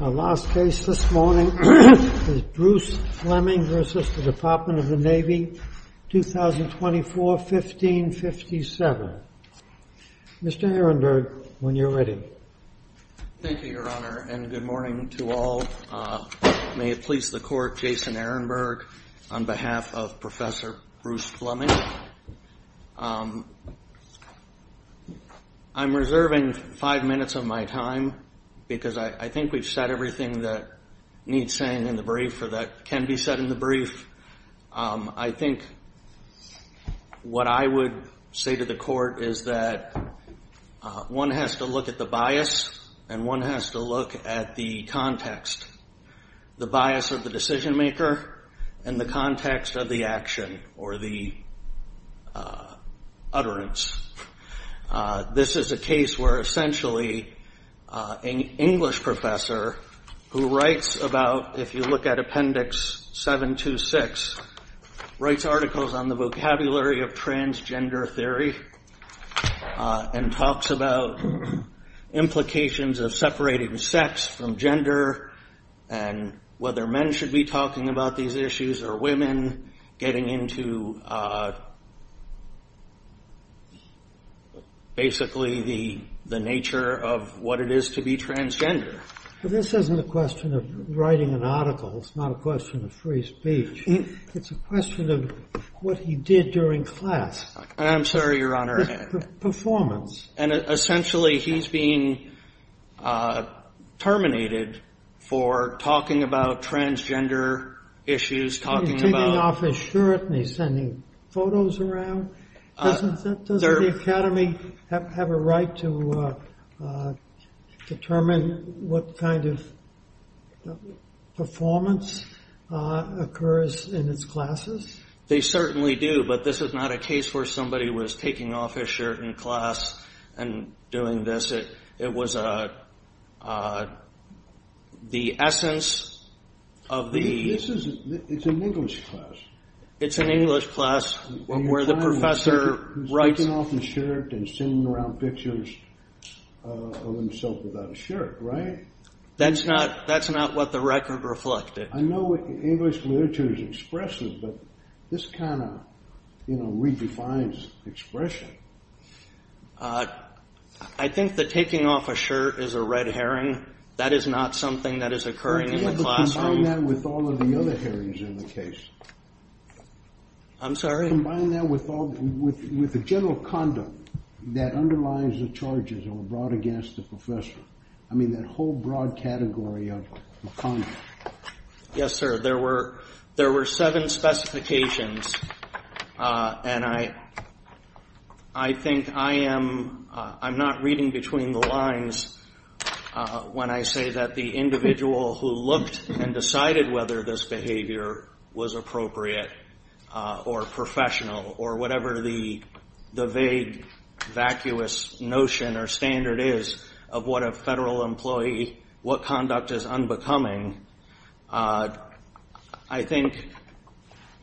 Our last case this morning is Bruce Fleming v. Department of the Navy, 2024-1557. Mr. Ehrenberg, when you're ready. Thank you, Your Honor, and good morning to all. May it please the Court, Jason Ehrenberg, on behalf of Professor Bruce Fleming. I'm reserving five minutes of my time because I think we've said everything that needs saying in the brief or that can be said in the brief. I think what I would say to the Court is that one has to look at the bias and one has to look at the context. The bias of the decision-maker and the context of the action or the utterance. This is a case where essentially an English professor who writes about, if you look at Appendix 726, writes articles on the vocabulary of transgender theory and talks about implications of separating sex from gender and whether men should be talking about these issues or women, getting into basically the nature of what it is to be transgender. This isn't a question of writing an article. It's not a question of free speech. It's a question of what he did during class. I'm sorry, Your Honor. Performance. And essentially he's being terminated for talking about transgender issues. He's taking off his shirt and he's sending photos around. Doesn't the academy have a right to determine what kind of performance occurs in its classes? They certainly do, but this is not a case where somebody was taking off his shirt in class and doing this. It was the essence of the... It's an English class. It's an English class where the professor writes... He's taking off his shirt and sending around pictures of himself without a shirt, right? That's not what the record reflected. I know English literature is expressive, but this kind of redefines expression. I think that taking off a shirt is a red herring. That is not something that is occurring in the classroom. Combine that with all of the other herrings in the case. I'm sorry? Combine that with the general condom that underlies the charges that were brought against the professor. I mean, that whole broad category of condoms. Yes, sir. There were seven specifications. And I think I am not reading between the lines when I say that the individual who looked and decided whether this behavior was appropriate or professional or whatever the vague, vacuous notion or standard is of what a federal employee, what conduct is unbecoming, I think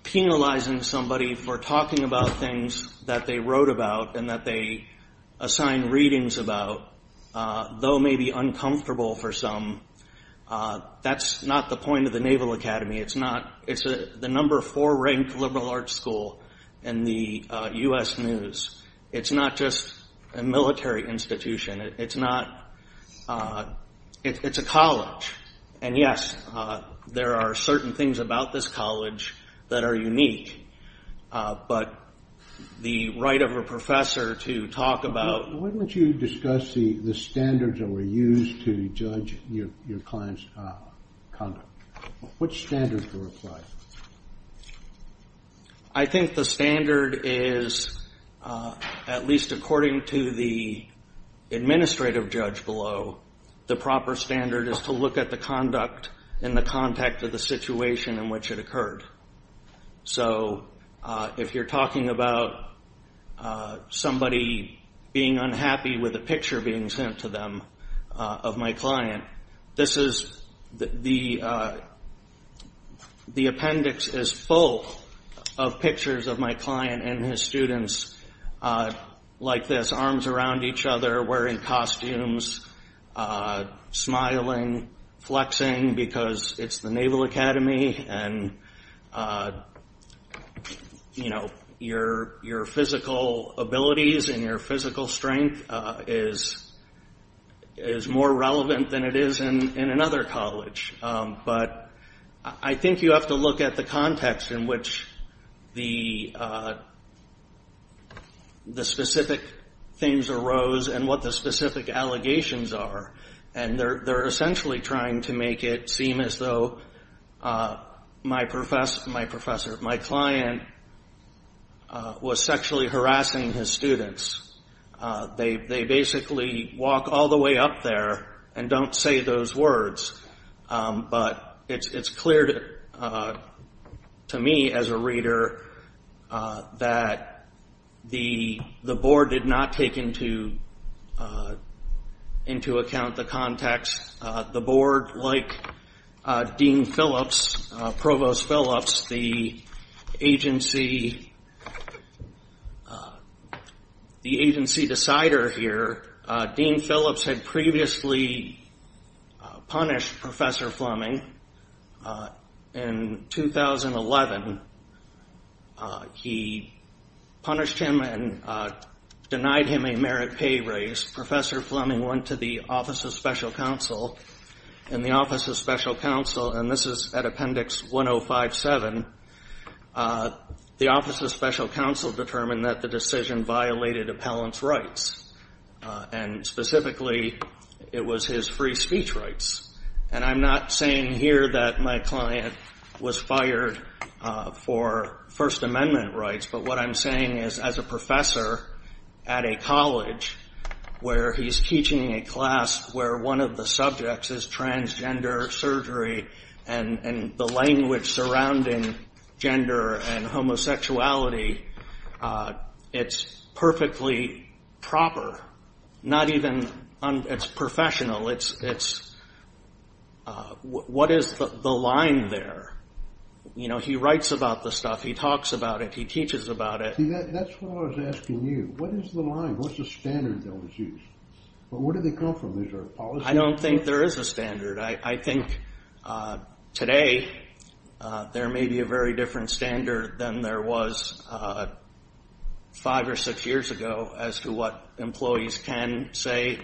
penalizing somebody for talking about things that they wrote about and that they assigned readings about, though maybe uncomfortable for some, that's not the point of the Naval Academy. It's the number four ranked liberal arts school in the U.S. News. It's not just a military institution. It's a college. And yes, there are certain things about this college that are unique, but the right of a professor to talk about- Why don't you discuss the standards that were used to judge your client's conduct. What standards were applied? I think the standard is, at least according to the administrative judge below, the proper standard is to look at the conduct in the context of the situation in which it occurred. So if you're talking about somebody being unhappy with a picture being sent to them of my client, this is- the appendix is full of pictures of my client and his students like this, arms around each other, wearing costumes, smiling, flexing because it's the Naval Academy and your physical abilities and your physical strength is more relevant than it is in another college. But I think you have to look at the context in which the specific things arose and what the specific allegations are. And they're essentially trying to make it seem as though my professor, my client, was sexually harassing his students. They basically walk all the way up there and don't say those words. But it's clear to me as a reader that the board did not take into account the context. The board, like Dean Phillips, Provost Phillips, the agency decider here, Dean Phillips had previously punished Professor Fleming in 2011. He punished him and denied him a merit pay raise. Professor Fleming went to the Office of Special Counsel and the Office of Special Counsel, and this is at appendix 1057, the Office of Special Counsel determined that the decision violated appellant's rights. And specifically, it was his free speech rights. And I'm not saying here that my client was fired for First Amendment rights, but what I'm saying is as a professor at a college where he's teaching a class where one of the subjects is transgender surgery and the language surrounding gender and homosexuality, it's perfectly proper. Not even, it's professional. It's, what is the line there? You know, he writes about the stuff. He talks about it. He teaches about it. See, that's what I was asking you. What is the line? What's the standard that was used? Where did they come from? Is there a policy? I don't think there is a standard. I think today there may be a very different standard than there was five or six years ago as to what employees can say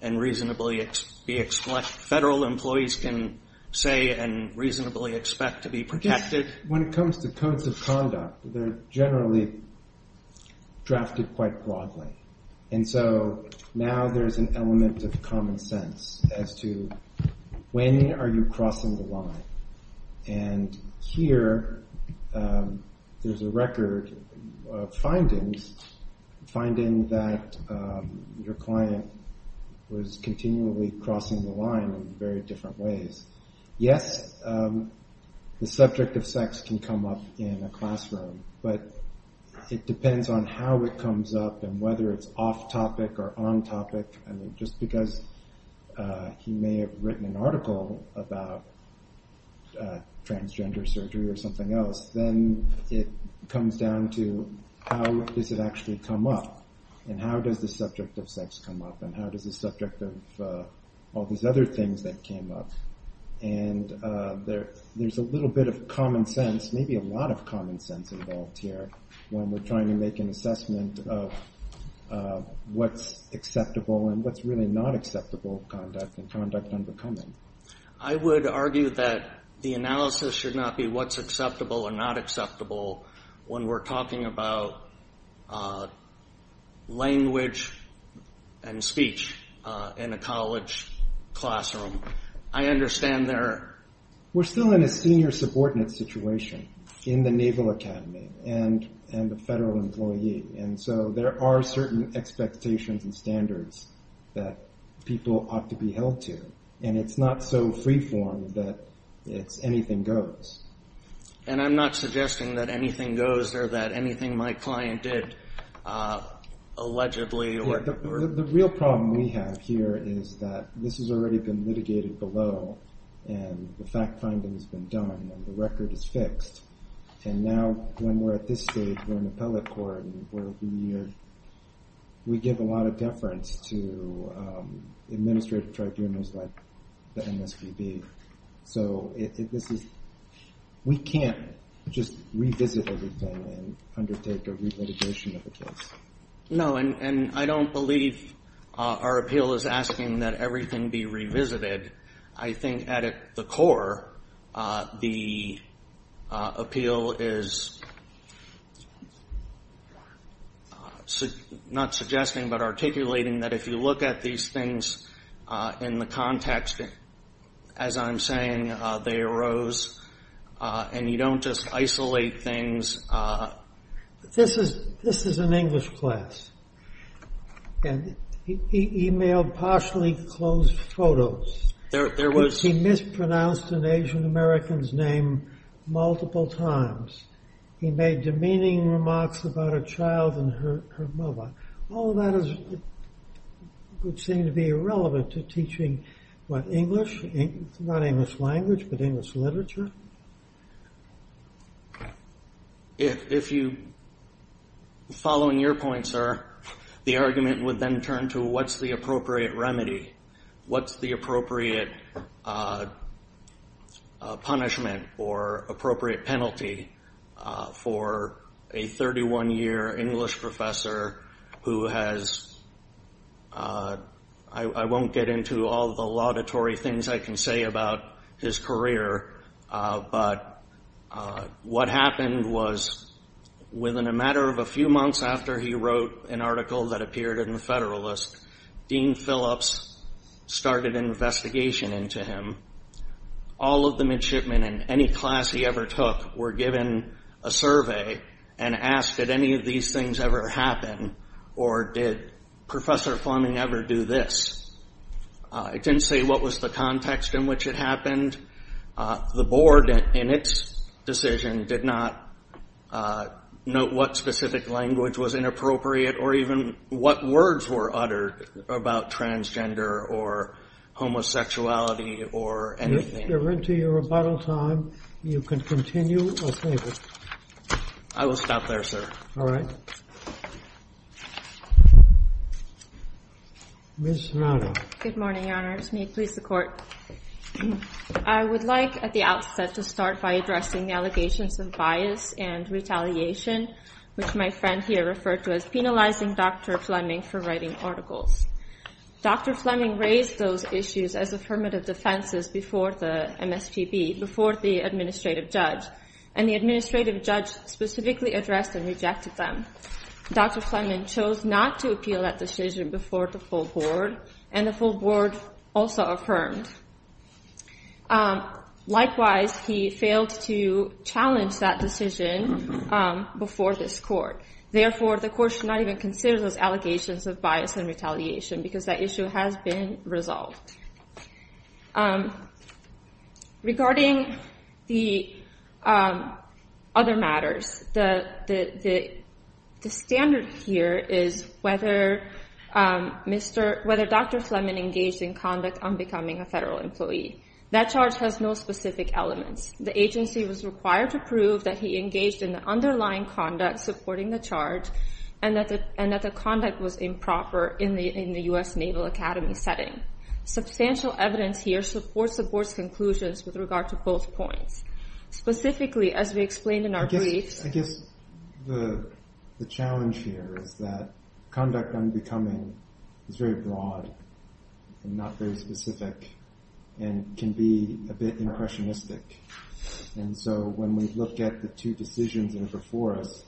and reasonably be, federal employees can say and reasonably expect to be protected. When it comes to codes of conduct, they're generally drafted quite broadly. And so now there's an element of common sense as to when are you crossing the line. And here there's a record of findings, finding that your client was continually crossing the line in very different ways. Yes, the subject of sex can come up in a classroom, but it depends on how it comes up and whether it's off topic or on topic. I mean, just because he may have written an article about transgender surgery or something else, then it comes down to how does it actually come up and how does the subject of sex come up and how does the subject of all these other things that came up. And there's a little bit of common sense, maybe a lot of common sense involved here when we're trying to make an assessment of what's acceptable and what's really not acceptable conduct and conduct unbecoming. I would argue that the analysis should not be what's acceptable or not acceptable when we're talking about language and speech in a college classroom. I understand there... We're still in a senior subordinate situation in the Naval Academy and the federal employee. And so there are certain expectations and standards that people ought to be held to. And it's not so free form that it's anything goes. And I'm not suggesting that anything goes or that anything my client did allegedly... The real problem we have here is that this has already been litigated below and the fact finding has been done and the record is fixed. And now when we're at this stage, we're in appellate court where we give a lot of deference to administrative tribunals like the MSPB. So we can't just revisit everything and undertake a re-litigation of the case. No, and I don't believe our appeal is asking that everything be revisited. I think at the core, the appeal is not suggesting but articulating that if you look at these things in the context, as I'm saying, they arose. And you don't just isolate things. This is an English class. And he emailed partially closed photos. He mispronounced an Asian American's name multiple times. He made demeaning remarks about a child and her mother. All of that would seem to be irrelevant to teaching, what, English? Not English language but English literature? Following your point, sir, the argument would then turn to what's the appropriate remedy? What's the appropriate punishment or appropriate penalty for a 31-year English professor who has, I won't get into all the laudatory things I can say about his career, but what happened was within a matter of a few months after he wrote an article that appeared in the Federalist, Dean Phillips started an investigation into him. All of the midshipmen in any class he ever took were given a survey and asked, did any of these things ever happen? Or did Professor Fleming ever do this? It didn't say what was the context in which it happened. The board, in its decision, did not note what specific language was inappropriate or even what words were uttered about transgender or homosexuality or anything. If you're into your rebuttal time, you can continue or save it. I will stop there, sir. All right. Ms. Shimada. Good morning, Your Honors. May it please the Court. I would like at the outset to start by addressing the allegations of bias and retaliation, which my friend here referred to as penalizing Dr. Fleming for writing articles. Dr. Fleming raised those issues as affirmative defenses before the MSPB, before the administrative judge, and the administrative judge specifically addressed and rejected them. Dr. Fleming chose not to appeal that decision before the full board, and the full board also affirmed. Likewise, he failed to challenge that decision before this Court. Therefore, the Court should not even consider those allegations of bias and retaliation because that issue has been resolved. Regarding the other matters, the standard here is whether Dr. Fleming engaged in conduct unbecoming a federal employee. That charge has no specific elements. The agency was required to prove that he engaged in the underlying conduct supporting the charge and that the conduct was improper in the U.S. Naval Academy setting. Substantial evidence here supports the board's conclusions with regard to both points. Specifically, as we explained in our briefs... I guess the challenge here is that conduct unbecoming is very broad and not very specific and can be a bit impressionistic. When we look at the two decisions that are before us,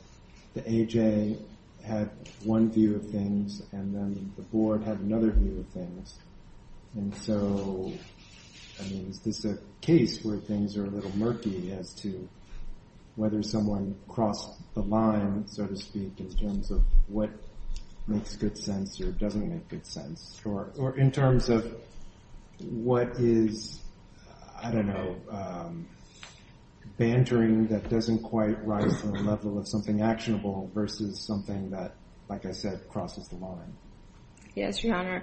the AJ had one view of things and then the board had another view of things. Is this a case where things are a little murky as to whether someone crossed the line, so to speak, in terms of what makes good sense or doesn't make good sense? Or in terms of what is, I don't know, bantering that doesn't quite rise to the level of something actionable versus something that, like I said, crosses the line? Yes, Your Honor.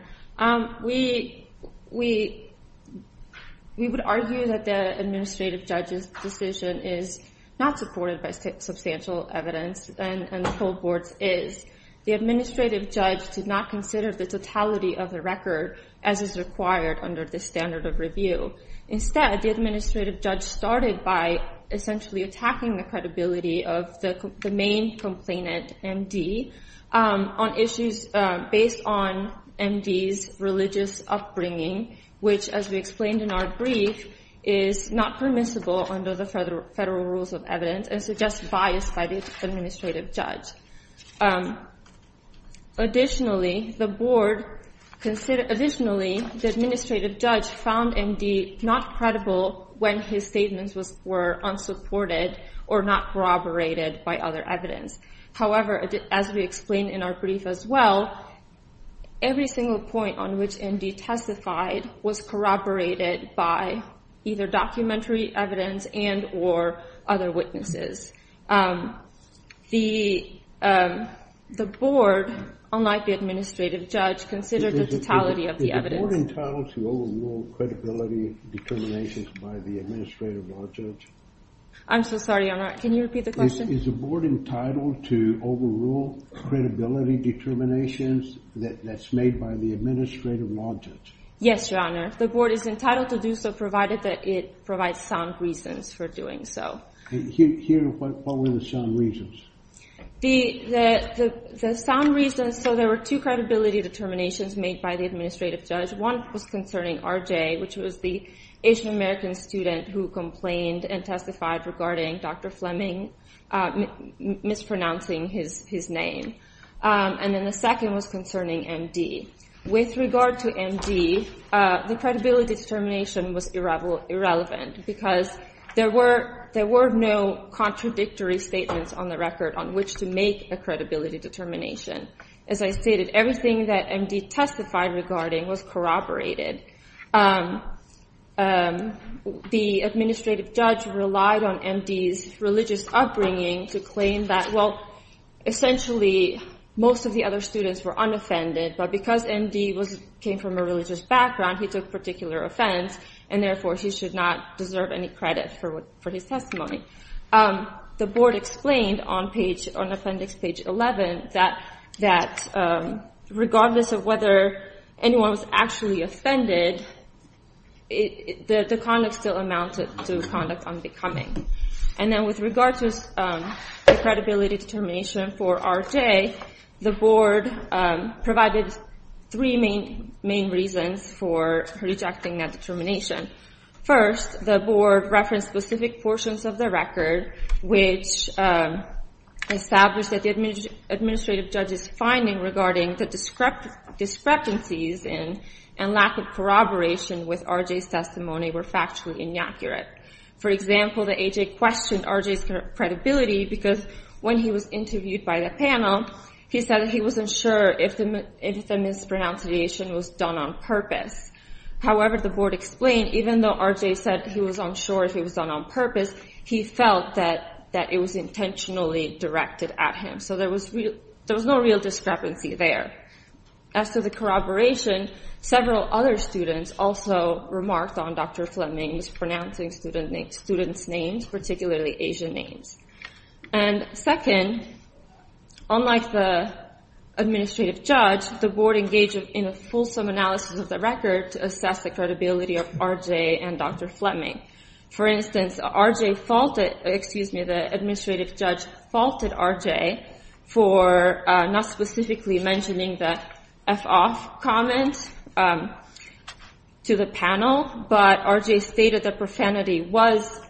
We would argue that the administrative judge's decision is not supported by substantial evidence and the full board's is. The administrative judge did not consider the totality of the record as is required under the standard of review. Instead, the administrative judge started by essentially attacking the credibility of the main complainant, M.D., on issues based on M.D.'s religious upbringing, which, as we explained in our brief, is not permissible under the federal rules of evidence and suggests bias by the administrative judge. Additionally, the board considered, additionally, the administrative judge found M.D. not credible when his statements were unsupported or not corroborated by other evidence. However, as we explained in our brief as well, every single point on which M.D. testified was corroborated by either documentary evidence and or other witnesses. The board, unlike the administrative judge, considered the totality of the evidence. Is the board entitled to overrule credibility determinations by the administrative law judge? I'm so sorry, Your Honor. Can you repeat the question? Is the board entitled to overrule credibility determinations that's made by the administrative law judge? Yes, Your Honor. The board is entitled to do so, provided that it provides sound reasons for doing so. Here, what were the sound reasons? The sound reasons, so there were two credibility determinations made by the administrative judge. One was concerning R.J., which was the Asian American student who complained and testified regarding Dr. Fleming mispronouncing his name. And then the second was concerning M.D. With regard to M.D., the credibility determination was irrelevant because there were no contradictory statements on the record on which to make a credibility determination. As I stated, everything that M.D. testified regarding was corroborated. The administrative judge relied on M.D.'s religious upbringing to claim that, well, essentially most of the other students were unoffended, but because M.D. came from a religious background, he took particular offense, and therefore he should not deserve any credit for his testimony. The board explained on appendix page 11 that regardless of whether anyone was actually offended, the conduct still amounted to conduct unbecoming. And then with regard to the credibility determination for R.J., the board provided three main reasons for rejecting that determination. First, the board referenced specific portions of the record which established that the administrative judge's finding regarding the discrepancies and lack of corroboration with R.J.'s testimony were factually inaccurate. For example, the A.J. questioned R.J.'s credibility because when he was interviewed by the panel, he said he wasn't sure if the mispronunciation was done on purpose. However, the board explained, even though R.J. said he was unsure if it was done on purpose, he felt that it was intentionally directed at him. So there was no real discrepancy there. As to the corroboration, several other students also remarked on Dr. Fleming's pronouncing students' names, particularly Asian names. And second, unlike the administrative judge, the board engaged in a fulsome analysis of the record to assess the credibility of R.J. and Dr. Fleming. For instance, the administrative judge faulted R.J. for not specifically mentioning the F-off comment to the panel, but R.J. stated that profanity was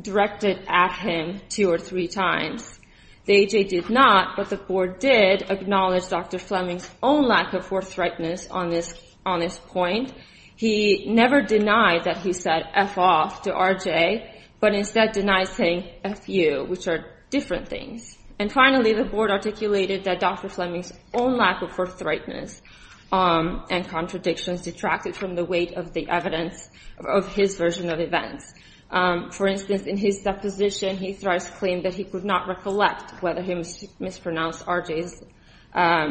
directed at him two or three times. The A.J. did not, but the board did acknowledge Dr. Fleming's own lack of forthrightness on this point. He never denied that he said F-off to R.J., but instead denied saying F-you, which are different things. And finally, the board articulated that Dr. Fleming's own lack of forthrightness and contradictions detracted from the weight of the evidence of his version of events. For instance, in his deposition, he thrives to claim that he could not recollect whether he mispronounced R.J.'s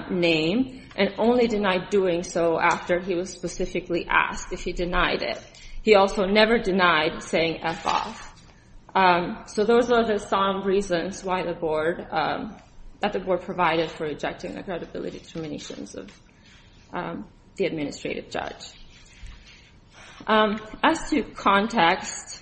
name, and only denied doing so after he was specifically asked if he denied it. He also never denied saying F-off. So those are the some reasons that the board provided for rejecting the credibility determinations of the administrative judge. As to context,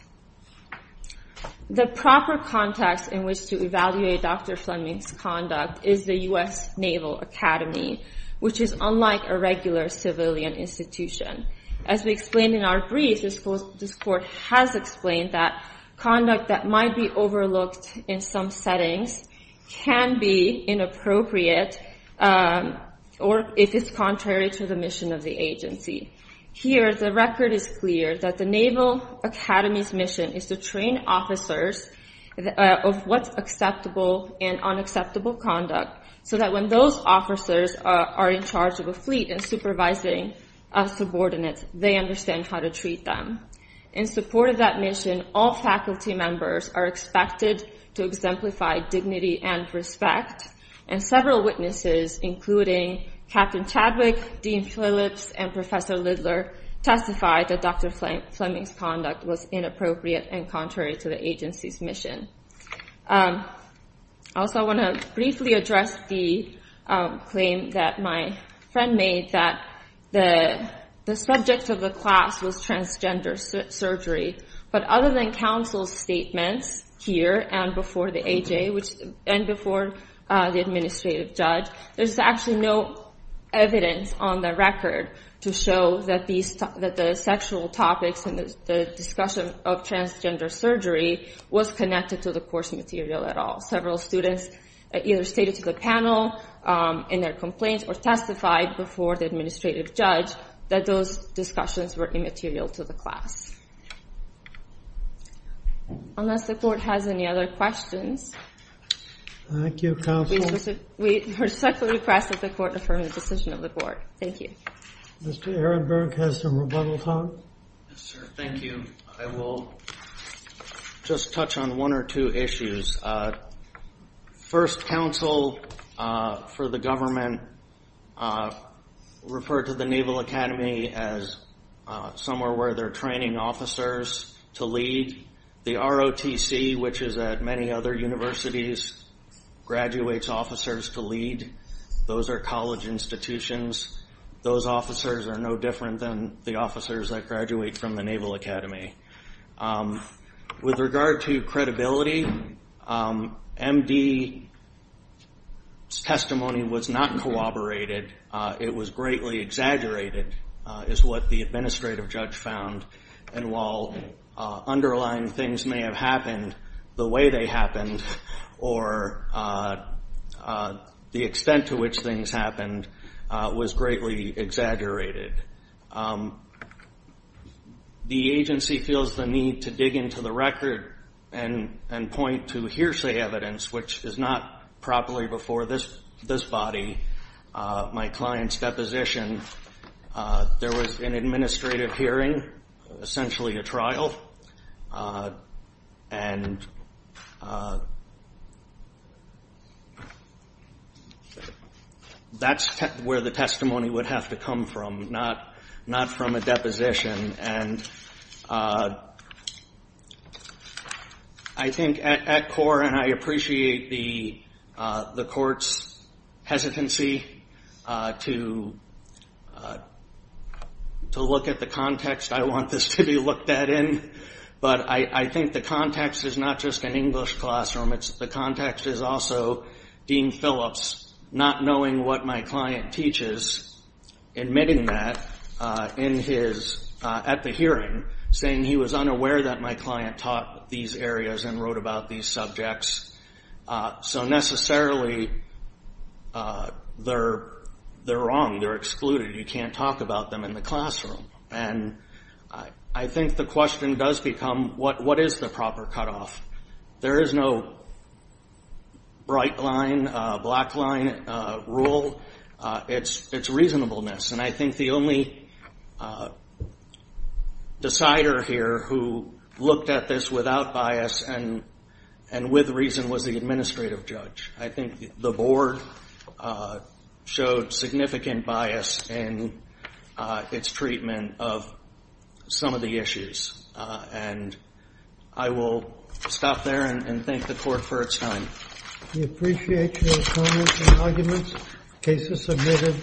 the proper context in which to evaluate Dr. Fleming's conduct is the U.S. Naval Academy, which is unlike a regular civilian institution. As we explained in our brief, this court has explained that conduct that might be overlooked in some settings can be inappropriate, or if it's contrary to the mission of the agency. Here, the record is clear that the Naval Academy's mission is to train officers of what's acceptable and unacceptable conduct, so that when those officers are in charge of a fleet and supervising a subordinate, they understand how to treat them. In support of that mission, all faculty members are expected to exemplify dignity and respect, and several witnesses, including Captain Chadwick, Dean Phillips, and Professor Lidler, testified that Dr. Fleming's conduct was inappropriate and contrary to the agency's mission. Also, I want to briefly address the claim that my friend made that the subject of the class was transgender surgery. But other than counsel's statements here and before the AJ, and before the administrative judge, there's actually no evidence on the record to show that the sexual topics and the discussion of transgender surgery was connected to the course material at all. Several students either stated to the panel in their complaints or testified before the administrative judge that those discussions were immaterial to the class. Unless the court has any other questions. Thank you, counsel. We respectfully request that the court affirm the decision of the court. Thank you. Mr. Ehrenberg has some rebuttal time. Yes, sir. Thank you. I will just touch on one or two issues. First, counsel for the government referred to the Naval Academy as somewhere where they're training officers to lead. The ROTC, which is at many other universities, graduates officers to lead. Those are college institutions. Those officers are no different than the officers that graduate from the Naval Academy. With regard to credibility, MD's testimony was not corroborated. It was greatly exaggerated, is what the administrative judge found. While underlying things may have happened the way they happened or the extent to which things happened, it was greatly exaggerated. The agency feels the need to dig into the record and point to hearsay evidence, which is not properly before this body, my client's deposition. There was an administrative hearing, essentially a trial, and that's where the testimony would have to come from, not from a deposition. I think at core, and I appreciate the court's hesitancy to look at the context I want this to be looked at in, but I think the context is not just an English classroom. The context is also Dean Phillips not knowing what my client teaches, admitting that at the hearing, saying he was unaware that my client taught these areas and wrote about these subjects. Necessarily, they're wrong. They're excluded. You can't talk about them in the classroom. And I think the question does become, what is the proper cutoff? There is no bright line, black line rule. It's reasonableness. And I think the only decider here who looked at this without bias and with reason was the administrative judge. I think the board showed significant bias in its treatment of some of the issues. And I will stop there and thank the court for its time. We appreciate your comments and arguments. The case is submitted.